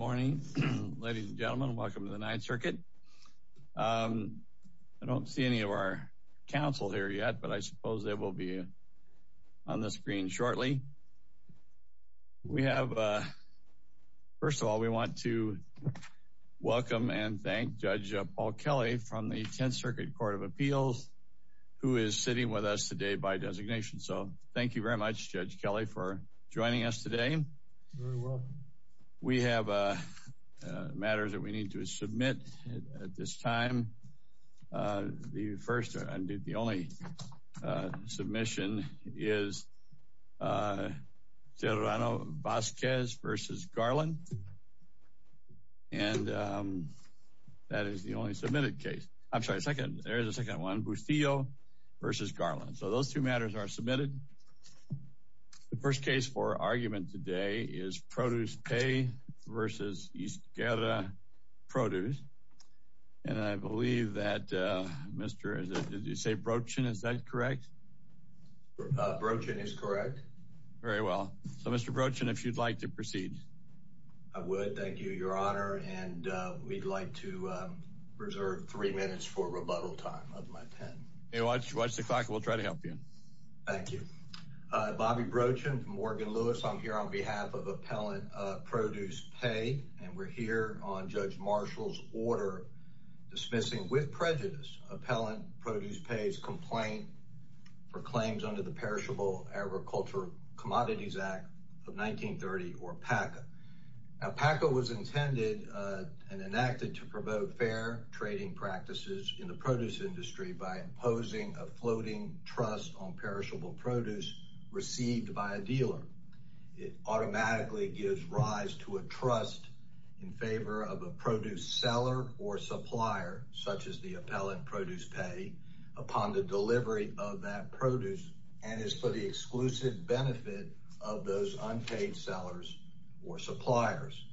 Good morning, ladies and gentlemen. Welcome to the Ninth Circuit. I don't see any of our counsel here yet, but I suppose they will be on the screen shortly. First of all, we want to welcome and thank Judge Paul Kelly from the Tenth Circuit Court of Appeals, who is sitting with us today by designation. So thank you very much, Judge Kelly, for joining us today. We have matters that we need to submit at this time. The first and the only submission is Serrano-Vázquez v. Garland, and that is the only submitted case. I'm sorry, there is a second one, Bustillo v. Garland. So those two matters are submitted. The first case for argument today is Produce Pay v. Izguerra Produce, and I believe that Mr. — did you say Brochin? Is that correct? Brochin is correct. Very well. So Mr. Brochin, if you'd like to proceed. I would, thank you, Your Honor, and we'd like to reserve three minutes for rebuttal time of my pen. Hey, watch the clock. We'll try to help you. Thank you. I'm Morgan Lewis. I'm here on behalf of Appellant Produce Pay, and we're here on Judge Marshall's order dismissing with prejudice Appellant Produce Pay's complaint for claims under the Perishable Agricultural Commodities Act of 1930, or PACA. Now, PACA was intended and enacted to promote fair trading practices in the produce industry by imposing a floating trust on perishable produce received by a dealer. It automatically gives rise to a trust in favor of a produce seller or supplier, such as the Appellant Produce Pay, upon the delivery of that produce and is for the exclusive benefit of those unpaid sellers or suppliers.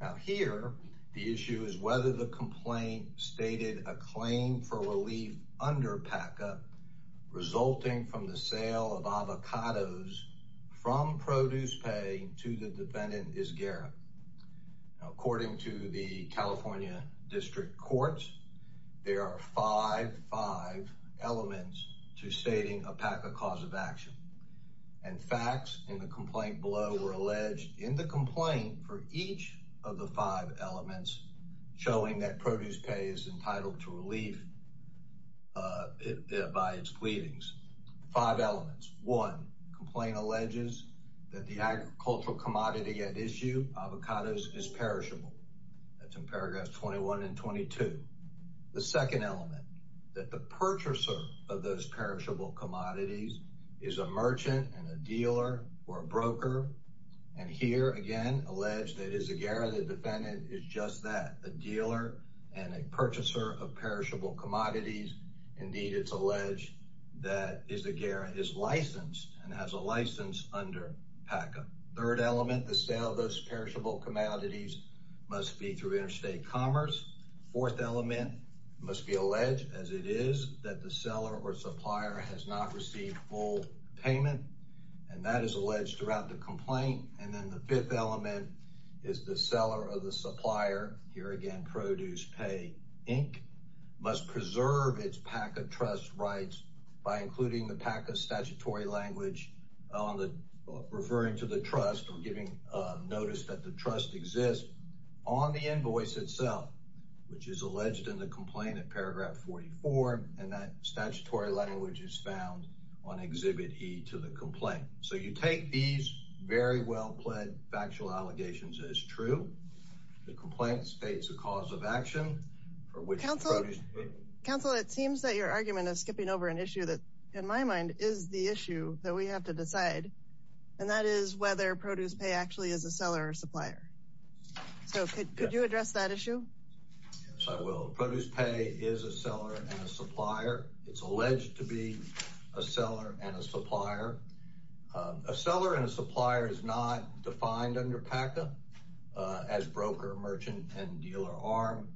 Now here, the issue is whether the complaint stated a claim for relief under PACA resulting from the sale of avocados from Produce Pay to the defendant is Garrett. According to the California District Courts, there are five, five elements to stating a PACA cause of action and facts in the complaint below were alleged in the complaint for each of the five elements showing that Produce Pay is entitled to relief by its pleadings. Five elements. One, complaint alleges that the agricultural commodity at issue, avocados, is perishable. That's in paragraphs 21 and 22. The second element, that the purchaser of those perishable commodities is a merchant and a dealer or a broker. And here again, alleged that it is a Garrett, the defendant is just that, a dealer and a purchaser of perishable commodities. Indeed, it's alleged that is a Garrett is licensed and has a license under PACA. Third element, the sale of those perishable commodities must be through interstate commerce. Fourth element must be alleged as it is that the seller or supplier has not received full payment and that is alleged throughout the complaint. And then the fifth element is the seller of the supplier. Here again, Produce Pay Inc. must preserve its PACA trust rights by including the PACA statutory language on the referring to the trust or giving notice that the trust exists on the invoice itself, which is alleged in the complaint at paragraph 44. And that statutory language is found on Exhibit E to the complaint. So you take these very well pled factual allegations as true. The complaint states a cause of action for which counsel counsel it seems that your argument is skipping over an issue that in my mind is the issue that we have to decide. And that is whether Produce Pay actually is a seller or supplier. So could you address that It's alleged to be a seller and a supplier. A seller and a supplier is not defined under PACA as broker merchant and dealer arm.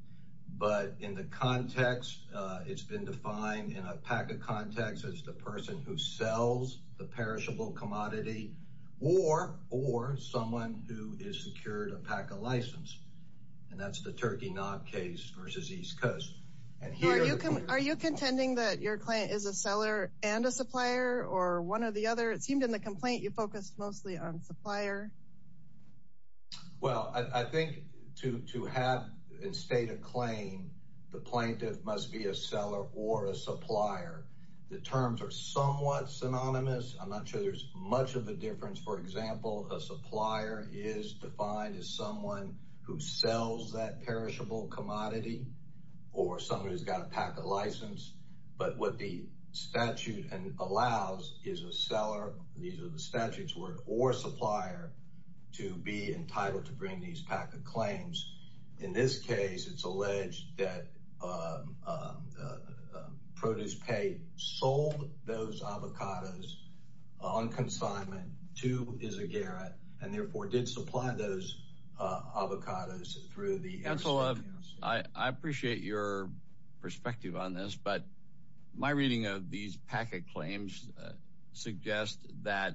But in the context, it's been defined in a PACA context as the person who sells the perishable commodity war or someone who is secured a PACA license. And that's the Turkey not case versus East Coast. Are you contending that your client is a seller and a supplier or one or the other? It seemed in the complaint you focused mostly on supplier. Well, I think to have in state of claim, the plaintiff must be a seller or a supplier. The terms are somewhat synonymous. I'm not sure there's much of a difference. For example, a supplier is defined as someone who sells that perishable commodity or somebody who's got a PACA license. But what the statute allows is a seller. These are the statutes were or supplier to be entitled to bring these PACA claims. In this case, it's alleged that the produce pay sold those avocados on consignment to Izaguirre and therefore did supply those avocados through the council. I appreciate your perspective on this, but my reading of these PACA claims suggest that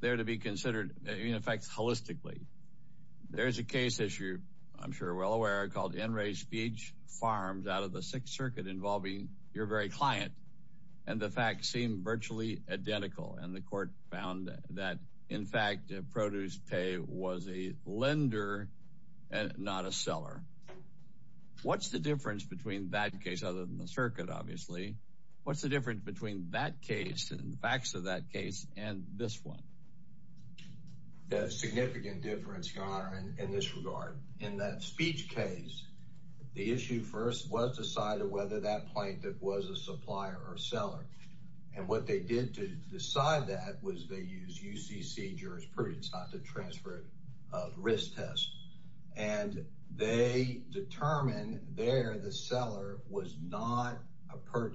they're to be considered in effect holistically. There's a case issue, I'm sure well aware, called in race speech farms out of the Sixth Circuit involving your very client. And the facts seem virtually identical. And the court found that, in fact, produce pay was a lender and not a seller. What's the difference between that case other than the circuit? Obviously, what's the difference between that case and the facts of case and this one? There's a significant difference, your honor, in this regard. In that speech case, the issue first was decided whether that plaintiff was a supplier or seller. And what they did to decide that was they used UCC jurisprudence not to transfer a risk test. And they determined there the seller was not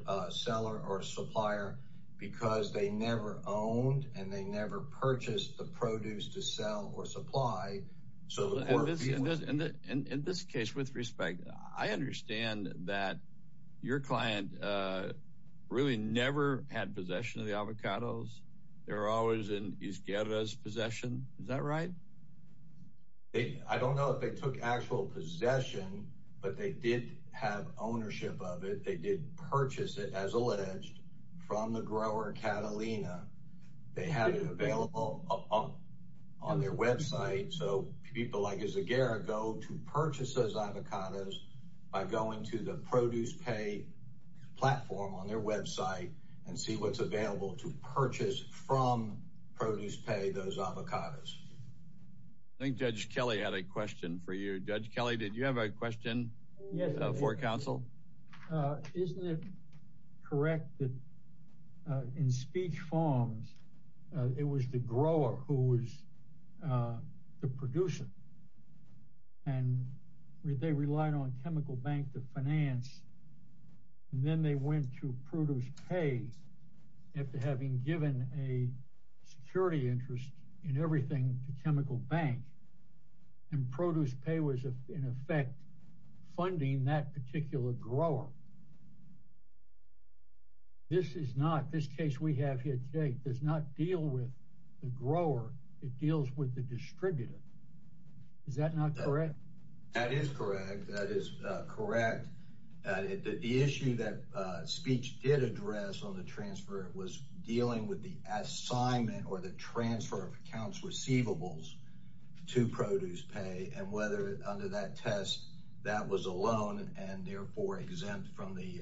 a seller or supplier because they never owned and they never purchased the produce to sell or supply. In this case, with respect, I understand that your client really never had possession of the avocados. They were always in Izaguirre's actual possession, but they did have ownership of it. They did purchase it, as alleged, from the grower Catalina. They have it available on their website. So people like Izaguirre go to purchase those avocados by going to the produce pay platform on their website and see what's Judge Kelly, did you have a question for counsel? Isn't it correct that in speech forms, it was the grower who was the producer and they relied on chemical bank to finance. And then they went to produce pay after having given a chemical bank and produce pay was in effect funding that particular grower. This is not this case we have here today does not deal with the grower. It deals with the distributor. Is that not correct? That is correct. That is correct. The issue that speech did address on the transfer was dealing with the assignment or the transfer of accounts receivables to produce pay and whether under that test, that was a loan and therefore exempt from the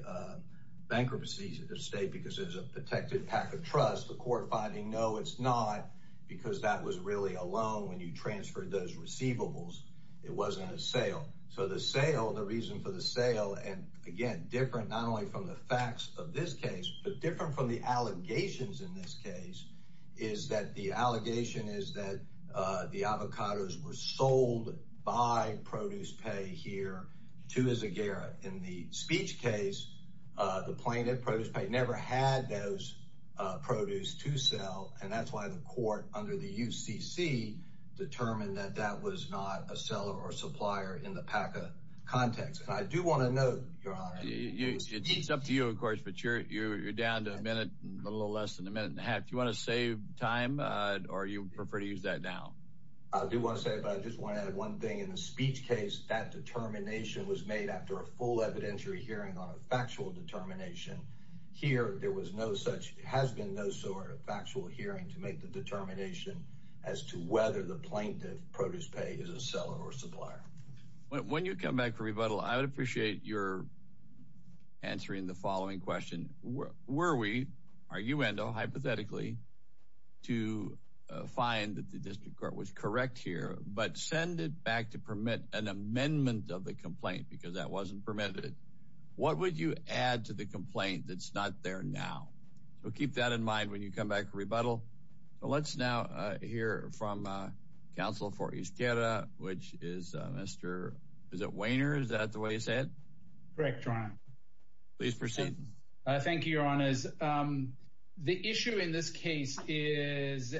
bankruptcy of the state because there's a protected pack of trust. The court finding no, it's not because that was really a loan when you transferred those receivables. It wasn't a sale. So the sale, the reason for the sale, and again, different not only from the facts of this case, but different from the allegations in this case, is that the allegation is that the avocados were sold by produce pay here to as a Garrett in the speech case, the plaintiff produce pay never had those produce to sell. And that's why the court under the UCC determined that that was not a seller or supplier in the PACA context. And I do want to know your honor. It's up to you, of course, but you're you're down to a minute, a little less than a minute and a half. You want to save time or you prefer to use that now? I do want to say about just wanted one thing in the speech case that determination was made after a full evidentiary hearing on a factual determination. Here, there was no such has been no sort of factual hearing to make the determination as to whether the plaintiff produce pay is a seller or supplier. When you come back for rebuttal, I would appreciate your answering the following question. Were we are you endo hypothetically to find that the district court was correct here, but send it back to permit an amendment of the complaint because that wasn't permitted? What would you add to the complaint that's not there now? So keep that in mind when you come back. Rebuttal. Let's now hear from counsel for each data, which is Mr. Is it Weiner? Is that the way you said? Correct. Please proceed. Thank you, your honors. The issue in this case is.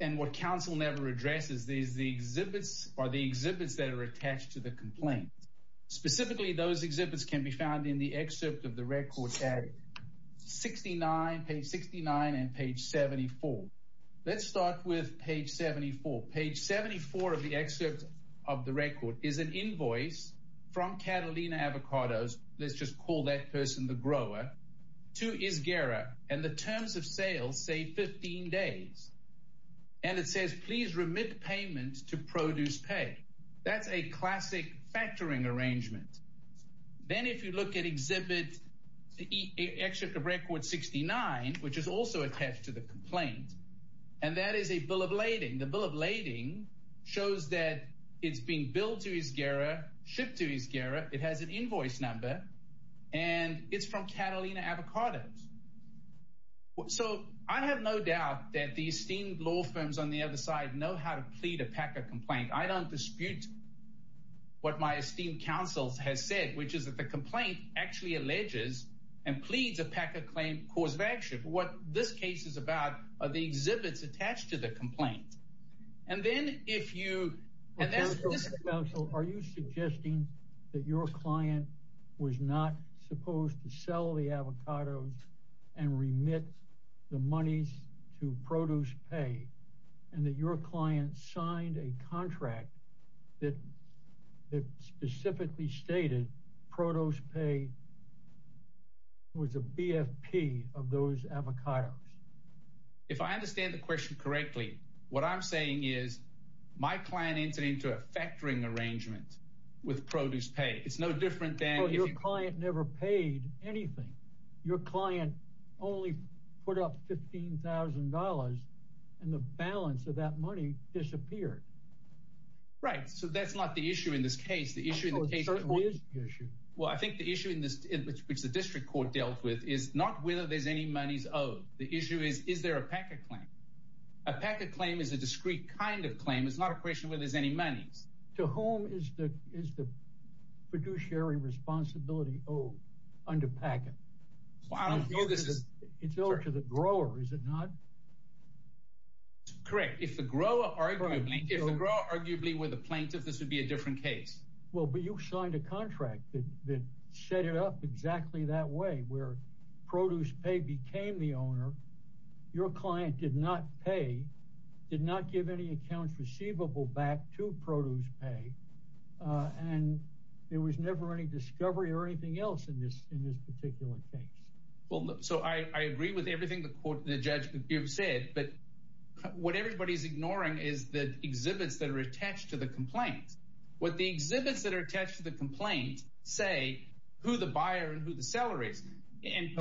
And what counsel never addresses these, the exhibits or the exhibits that are attached to the complaint. Specifically, those exhibits can be found in the excerpt of the records at 69 page 69 and page 74. Let's start with page 74. Page 74 of the excerpt of the record is an invoice from Catalina Avocados. Let's just call that person the grower to Isgera and the terms of factoring arrangement. Then if you look at exhibit. Excerpt of record 69, which is also attached to the complaint. And that is a bill of lading. The bill of lading shows that it's being built to Isgera shipped to Isgera. It has an invoice number and it's from Catalina Avocados. So I have no doubt that the esteemed law firms on the other know how to plead a PACA complaint. I don't dispute what my esteemed counsels has said, which is that the complaint actually alleges and pleads a PACA claim cause of action. What this case is about are the exhibits attached to the complaint. And then if you. Are you suggesting that your client was not supposed to sell the avocados and remit the monies to produce pay and that your client signed a contract that specifically stated produce pay was a BFP of those avocados? If I understand the question correctly, what I'm saying is my client entered into a factoring arrangement with produce pay. It's no different than your client never paid anything. Your client only put up $15,000 and the balance of that money disappeared. Right, so that's not the issue in this case. Well, I think the issue in this, which the district court dealt with is not whether there's any monies owed. The issue is, is there a PACA claim? A PACA claim is a discrete kind of claim. It's not a question whether there's any monies. To whom is the fiduciary responsibility owed under PACA? It's owed to the grower, is it not? Correct. If the grower arguably were the plaintiff, this would be a different case. Well, but you signed a contract that set it up exactly that way where produce pay became the back to produce pay and there was never any discovery or anything else in this particular case. Well, so I agree with everything the court, the judge said, but what everybody's ignoring is the exhibits that are attached to the complaint. What the exhibits that are attached to the complaint say who the buyer and who the seller is. And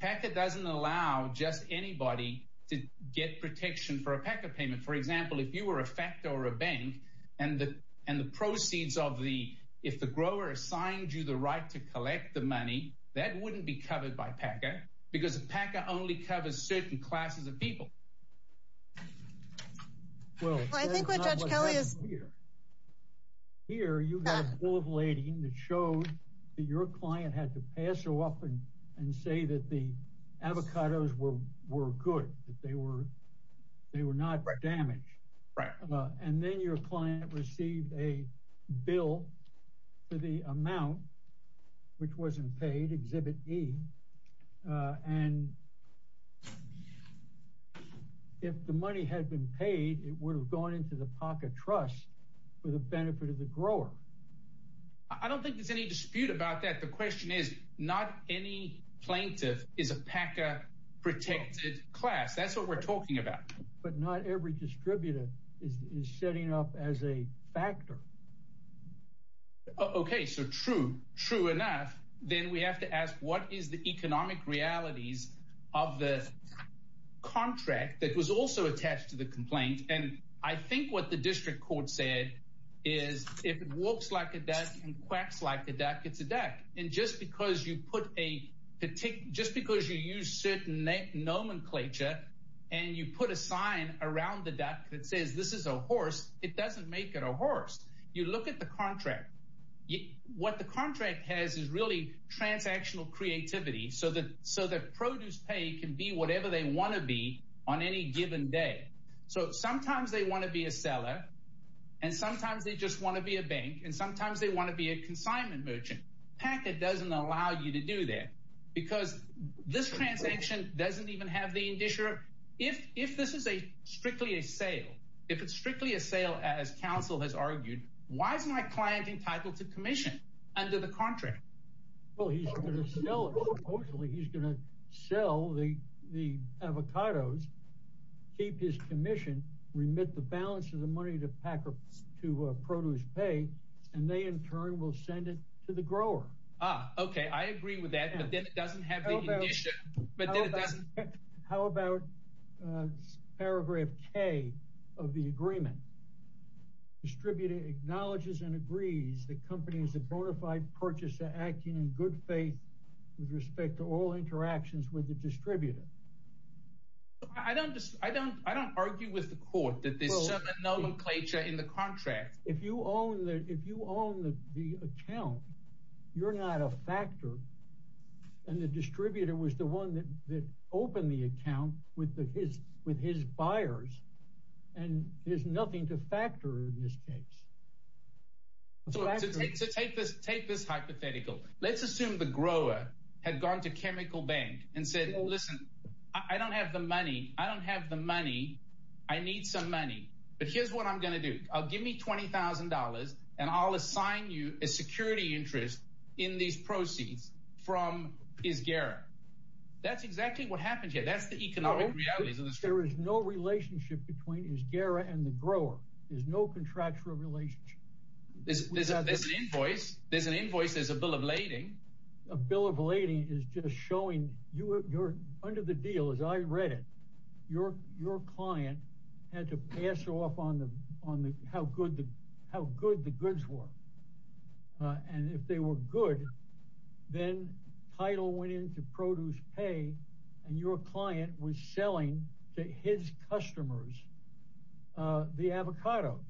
PACA doesn't allow just anybody to get protection for a PACA payment. For example, if you were a Factor or a bank and the proceeds of the, if the grower assigned you the right to collect the money, that wouldn't be covered by PACA because PACA only covers certain classes of people. Well, I think what Judge Kelly is here, you have full of lading that shows that your client had to pass her off and say that the they were not damaged. And then your client received a bill for the amount which wasn't paid and if the money had been paid, it would have gone into the PACA trust for the benefit of the grower. I don't think there's any dispute about that. The question is not any plaintiff is a PACA protected class. That's what we're talking about. But not every distributor is setting up as a Factor. Okay, so true, true enough. Then we have to ask what is the economic realities of the contract that was also attached to the complaint. And I think what the district court said is if it walks like a duck and quacks like a duck, it's a duck. And just because you put a just because you use certain nomenclature and you put a sign around the duck that says this is a horse, it doesn't make it a horse. You look at the contract. What the contract has is really transactional creativity so that so that produce pay can be whatever they want to be on any given day. So sometimes they want to be a seller. And sometimes they just want to be a bank. And this transaction doesn't even have the indusher. If this is a strictly a sale, if it's strictly a sale, as counsel has argued, why is my client entitled to commission under the contract? Well, he's going to sell it. Supposedly, he's going to sell the avocados, keep his commission, remit the balance of the money to PACA to produce pay, and they in turn will send it to the grower. Ah, okay. I agree with that. But then it doesn't have the issue. How about paragraph K of the agreement? Distributed acknowledges and agrees the company is a bona fide purchaser acting in good faith with respect to all interactions with the distributor. I don't just I don't I don't argue with the court that this nomenclature in the contract, if you own the if you own the account, you're not a factor. And the distributor was the one that opened the account with the his with his buyers. And there's nothing to factor in this case. So take this take this hypothetical. Let's assume the grower had gone to chemical bank and said, Listen, I don't have the money. I don't have the money. I need some money. But here's what I'm going to do. I'll give me $20,000. And I'll assign you a security interest in these proceeds from his gara. That's exactly what happens here. That's the economic realities of this. There is no relationship between his gara and the grower is no contractual relationship. This is a this invoice. There's an invoice is a bill of lading. A bill of lading is just showing you you're under the deal as I read it. Your your client had to pass off on the on the how good the how good the goods were. And if they were good, then title went into produce pay. And your client was selling to his customers, uh, the avocados,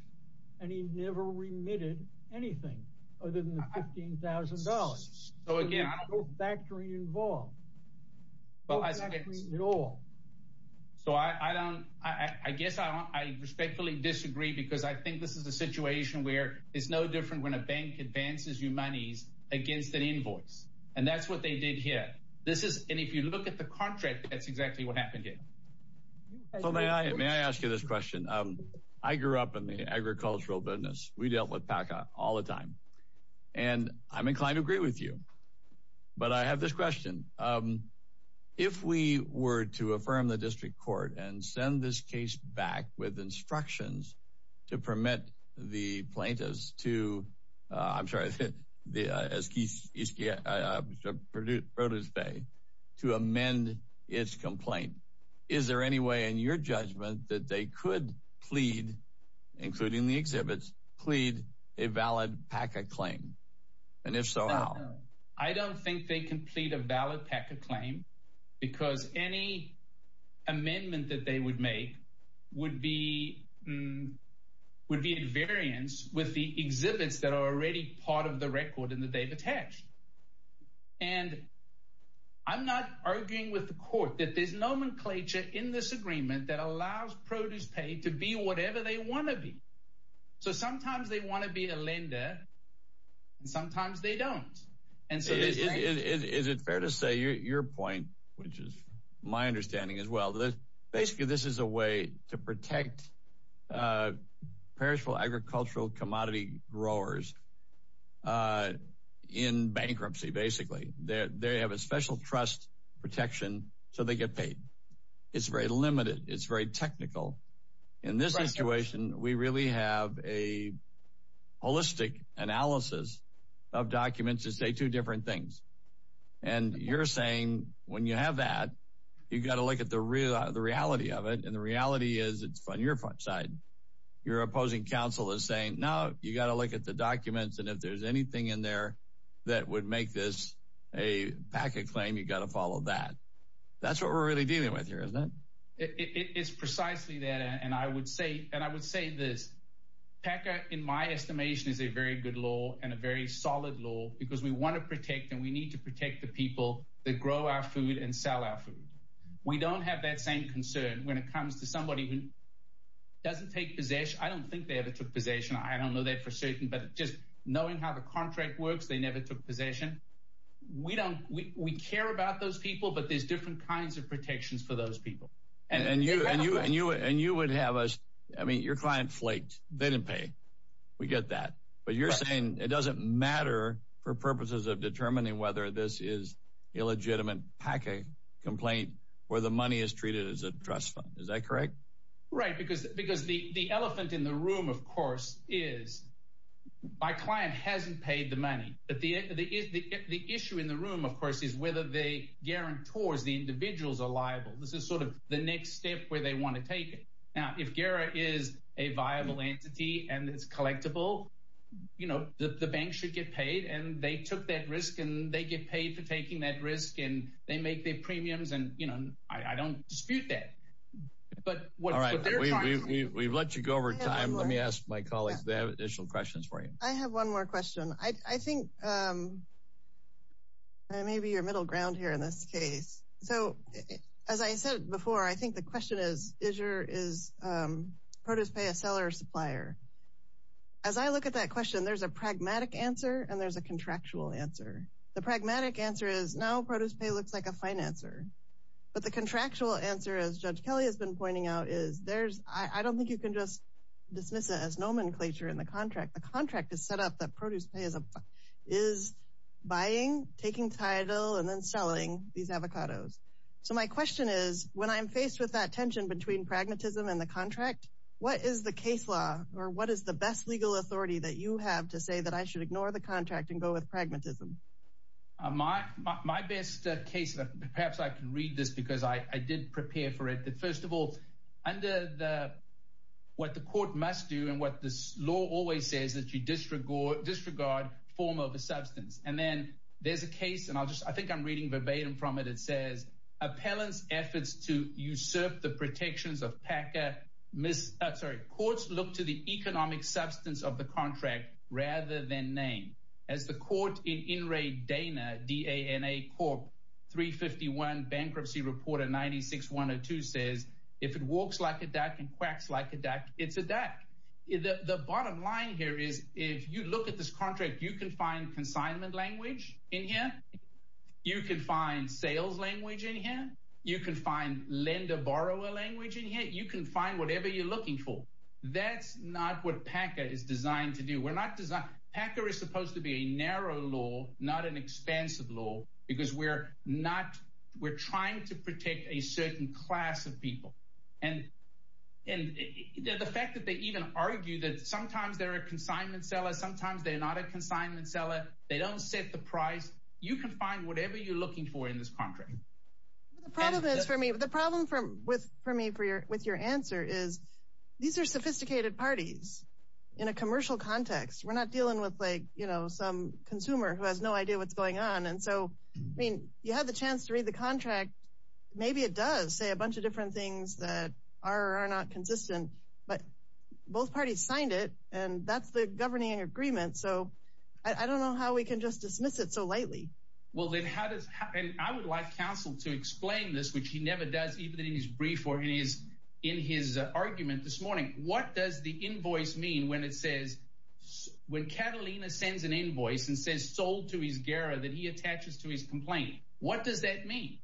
and he never remitted anything other than the $15,000. So again, I don't factor in involved. Well, I agree at all. So I don't, I guess I respectfully disagree because I think this is a situation where it's no different when a bank advances you monies against an invoice. And that's what they did here. This is and if you look at the contract, that's exactly what happened here. May I ask you this question? I grew up in the agricultural business. We dealt with Paca all the time. And I'm inclined to agree with you. But I have this question. If we were to affirm the district court and send this case back with instructions to permit the plaintiffs to, I'm sorry, the produce produce pay to amend its complaint, is there any way in your judgment that they could plead, including the exhibits, plead a valid Paca claim? And if so, I don't think they can plead a valid Paca claim, because any amendment that they would make would be would be invariance with the exhibits that are already part of the record and that they've attached. And I'm not arguing with the court that there's nomenclature in this agreement that allows produce pay to be whatever they want to be. So sometimes they want to be a lender. And sometimes they don't. And so is it fair to say your point, which is my understanding as well, that basically this is a way to protect perishable agricultural commodity growers in bankruptcy, basically, that they have a special trust protection. So they get paid. It's very limited. It's very technical. In this situation, we really have a holistic analysis of documents to say two different things. And you're saying when you have that, you've got to look at the reality of it. And the reality is it's on your side. Your opposing counsel is saying, no, you've got to look at the documents. And if there's anything in there that would make this a Paca claim, you've got to follow that. That's what we're really dealing with here, isn't it? It's precisely that. And I would say, this Paca, in my estimation, is a very good law and a very solid law because we want to protect and we need to protect the people that grow our food and sell our food. We don't have that same concern when it comes to somebody who doesn't take possession. I don't think they ever took possession. I don't know that for certain, but just knowing how the contract works, they never took possession. We don't we care about those people, but there's different kinds of protections for those people. And you and you and you and you would have us. I mean, your client flaked. They didn't pay. We get that. But you're saying it doesn't matter for purposes of determining whether this is a legitimate Paca complaint where the money is treated as a trust fund. Is that correct? Right. Because because the elephant in the room, of course, is my client hasn't paid the money. But the the issue in the room, of course, is whether they towards the individuals are liable. This is sort of the next step where they want to take it. Now, if Guerra is a viable entity and it's collectible, you know, the bank should get paid and they took that risk and they get paid for taking that risk and they make their premiums. And, you know, I don't dispute that. But what we've let you go over time. Let me ask my colleagues the additional questions for you. I have one more question. I think. And maybe your middle ground here in this case. So as I said before, I think the question is, is your is produce pay a seller or supplier? As I look at that question, there's a pragmatic answer and there's a contractual answer. The pragmatic answer is now produce pay looks like a financer. But the contractual answer, as Judge Kelly has been pointing out, is there's I don't think you can just dismiss it as nomenclature in the contract. The contract is set up that is buying, taking title and then selling these avocados. So my question is, when I'm faced with that tension between pragmatism and the contract, what is the case law or what is the best legal authority that you have to say that I should ignore the contract and go with pragmatism? My best case, perhaps I can read this because I did prepare for it. But first of all, under the what the court must do and what this law always says that you disregard, disregard form of a substance. And then there's a case and I'll just I think I'm reading verbatim from it. It says appellant's efforts to usurp the protections of PACA, courts look to the economic substance of the contract rather than name. As the court in D.A.N.A. Corp. 351 Bankruptcy Report 96-102 says, if it walks like a duck and quacks like a duck, it's a duck. The bottom line here is if you look at this contract, you can find consignment language in here. You can find sales language in here. You can find lender borrower language in here. You can find whatever you're looking for. That's not what PACA is designed to do. PACA is supposed to be a narrow law, not an expansive law, because we're trying to protect a certain class of people. And the fact that they even argue that sometimes they're a consignment seller, sometimes they're not a consignment seller. They don't set the price. You can find whatever you're looking for in this contract. The problem is for me, the problem for me with your answer is these are sophisticated parties in a commercial context. We're not dealing with some consumer who has no idea what's going on. And so, I mean, you had the chance to read the contract. Maybe it does say a bunch of different things that are or are not consistent, but both parties signed it, and that's the governing agreement. So I don't know how we can just dismiss it so lightly. Well, then how does, and I would like counsel to explain this, which he never does, even in his brief or in his argument this morning. What does the invoice mean when it says, when Catalina sends an invoice and says sold to Izguera that he attaches to his complaint? What does that mean?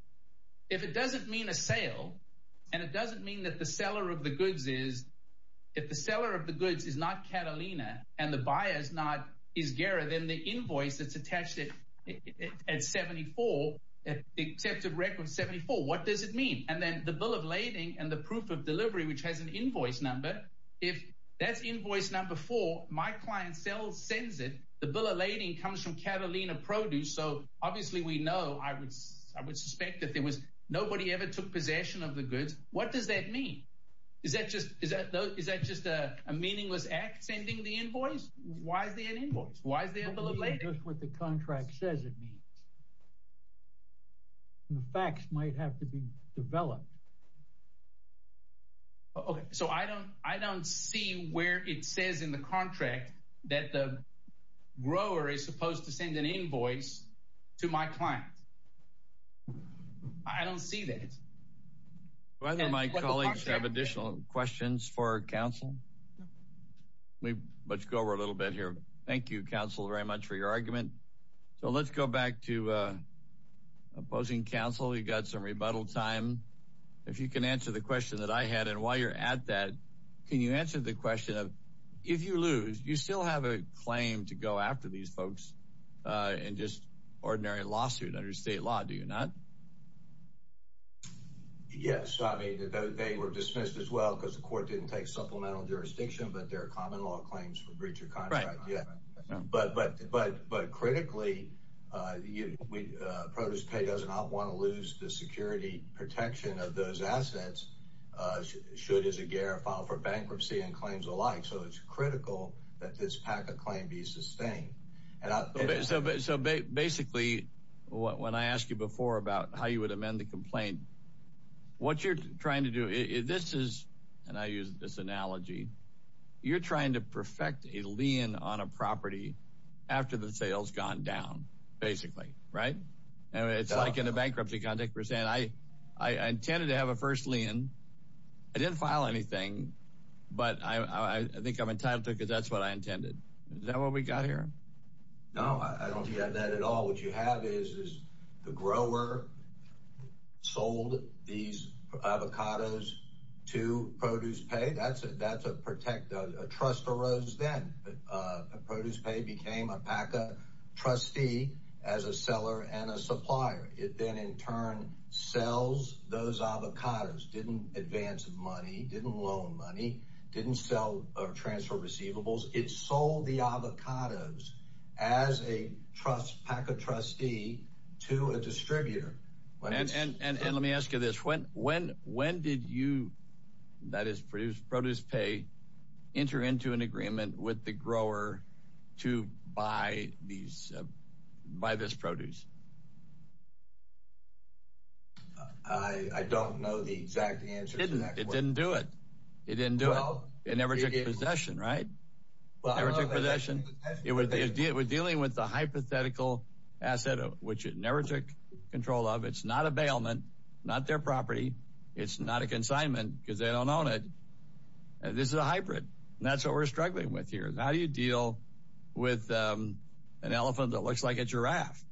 If it doesn't mean a sale, and it doesn't mean that the seller of the goods is, if the seller of the goods is not Catalina and the buyer is not Izguera, then the And then the bill of lading and the proof of delivery, which has an invoice number. If that's invoice number four, my client still sends it. The bill of lading comes from Catalina produce. So obviously we know I would, I would suspect that there was nobody ever took possession of the goods. What does that mean? Is that just, is that just a meaningless act sending the invoice? Why is there an invoice? Why is there a bill of lading? That's what the contract says it means. And the facts might have to be developed. Okay. So I don't, I don't see where it says in the contract that the grower is supposed to send an invoice to my client. I don't see that. Do either of my colleagues have additional questions for counsel? No. Let's go over a little bit here. Thank you, counsel, very much for your argument. So let's go back to opposing counsel. You've got some rebuttal time. If you can answer the question that I had, and while you're at that, can you answer the question of, if you lose, you still have a claim to go after these folks in just ordinary lawsuit under state law, do you not? Yes. I mean, they were dismissed as well because the court didn't take supplemental jurisdiction, but there are common law claims for breach of contract. Yeah. But, but, but, but critically, uh, we, uh, produce pay does not want to lose the security protection of those assets. Uh, should, as a gear file for bankruptcy and claims alike. So it's critical that this complaint, what you're trying to do is this is, and I use this analogy, you're trying to perfect a lien on a property after the sales gone down basically. Right. And it's like in a bankruptcy context, we're saying, I, I intended to have a first lien. I didn't file anything, but I, I think I'm entitled to it because that's what I intended. Is that what we got here? No, I don't think that at all. What you have is, is the grower sold these avocados to produce pay. That's a, that's a protect a trust arose. Then, uh, produce pay became a PACA trustee as a seller and a supplier. It then in turn sells those avocados. Didn't advance money. Didn't loan money. Didn't sell or transfer receivables. It sold the avocados as a trust PACA trustee to a distributor. And, and, and, and let me ask you this. When, when, when did you, that is produced produce pay enter into an agreement with the grower to buy these, uh, by this produce? Uh, I, I don't know the exact answer. It didn't do it. It didn't do it. It never took possession. Right. It was dealing with the hypothetical asset, which it never took control of. It's not a bailment, not their property. It's not a consignment because they don't own it. This is a hybrid and that's what we're struggling with here. How do you deal with, um, an elephant that looks like a giraffe?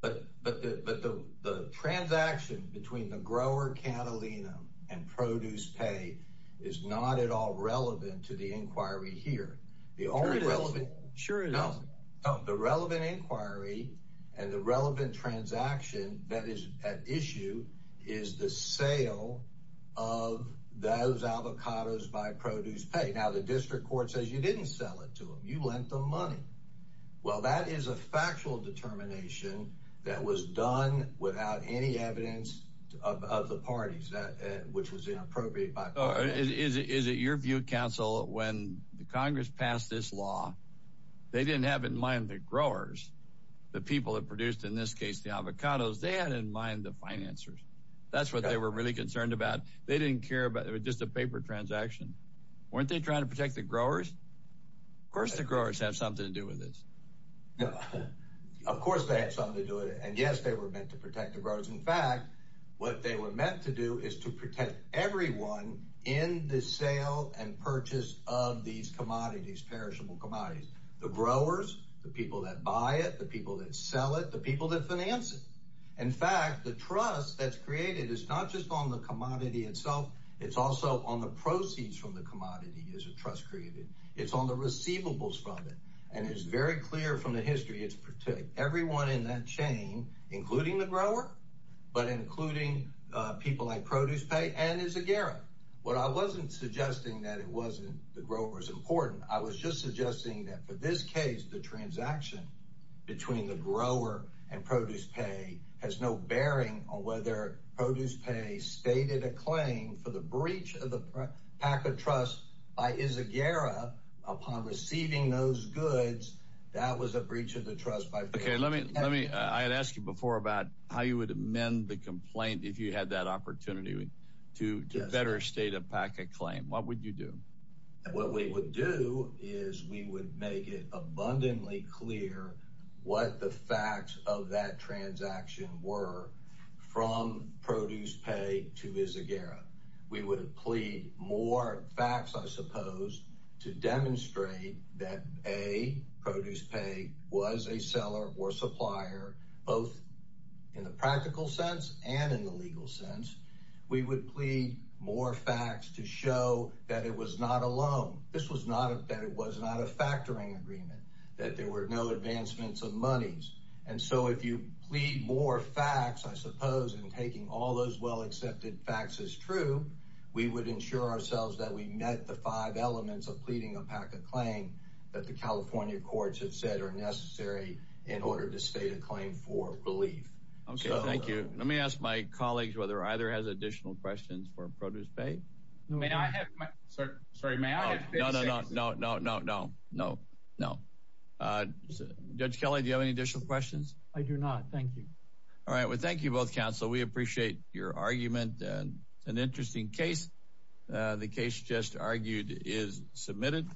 But, but, but the, the transaction between the grower Catalina and produce pay is not at all relevant to the inquiry here. The only relevant sure. No, no, the relevant inquiry and the relevant transaction that is at issue is the sale of those avocados by produce pay. Now the district court says you didn't sell it to them. You lent them money. Well, that is a factual determination that was done without any evidence of, of the parties that, uh, which was inappropriate by, uh, is it, is it your view council? When the Congress passed this law, they didn't have in mind the growers, the people that produced in this case, the avocados, they had in mind the financers. That's what they were really concerned about. They didn't care about it with just a paper transaction. Weren't they trying to protect the growers? Of course, the growers have something to do with this. No, of course they had something to do with it. And yes, they were meant to protect the growers. In fact, what they were meant to do is to protect everyone in the sale and purchase of these commodities, perishable commodities, the growers, the people that buy it, the people that sell it, the people that finance it. In fact, the trust that's created is not just on the commodity itself. It's also on the proceeds from the commodity is a trust created. It's on the receivables from it. And it's very clear from the history. It's particularly everyone in that chain, including the grower, but including people like produce pay and is a Garrett. What I wasn't suggesting that it wasn't the growers important. I was just suggesting that for this case, the transaction between the grower and produce pay has no bearing on whether produce pay stated a claim for the breach of the packet trust by is a Gara upon receiving those goods. That was a breach of the trust by. OK, let me let me. I had asked you before about how you would amend the complaint if you had that opportunity to better state a packet claim. What would you do? What we would do is we would make abundantly clear what the facts of that transaction were from produce pay to is a Gara. We would plead more facts, I suppose, to demonstrate that a produce pay was a seller or supplier, both in the practical sense and in the legal sense. We would plead more facts to show that it was not alone. This was not that it was not a factoring agreement, that there were no advancements of monies. And so if you plead more facts, I suppose, and taking all those well accepted facts is true. We would ensure ourselves that we met the five elements of pleading a packet claim that the California courts have said are necessary in order to state a claim for belief. OK, thank you. Let me ask my colleagues whether either has additional questions for produce pay. May I have my sorry? Sorry, may I? No, no, no, no, no, no, no, no, no. Judge Kelly, do you have any additional questions? I do not. Thank you. All right. Well, thank you both. Counsel, we appreciate your argument. An interesting case. The case just argued is submitted.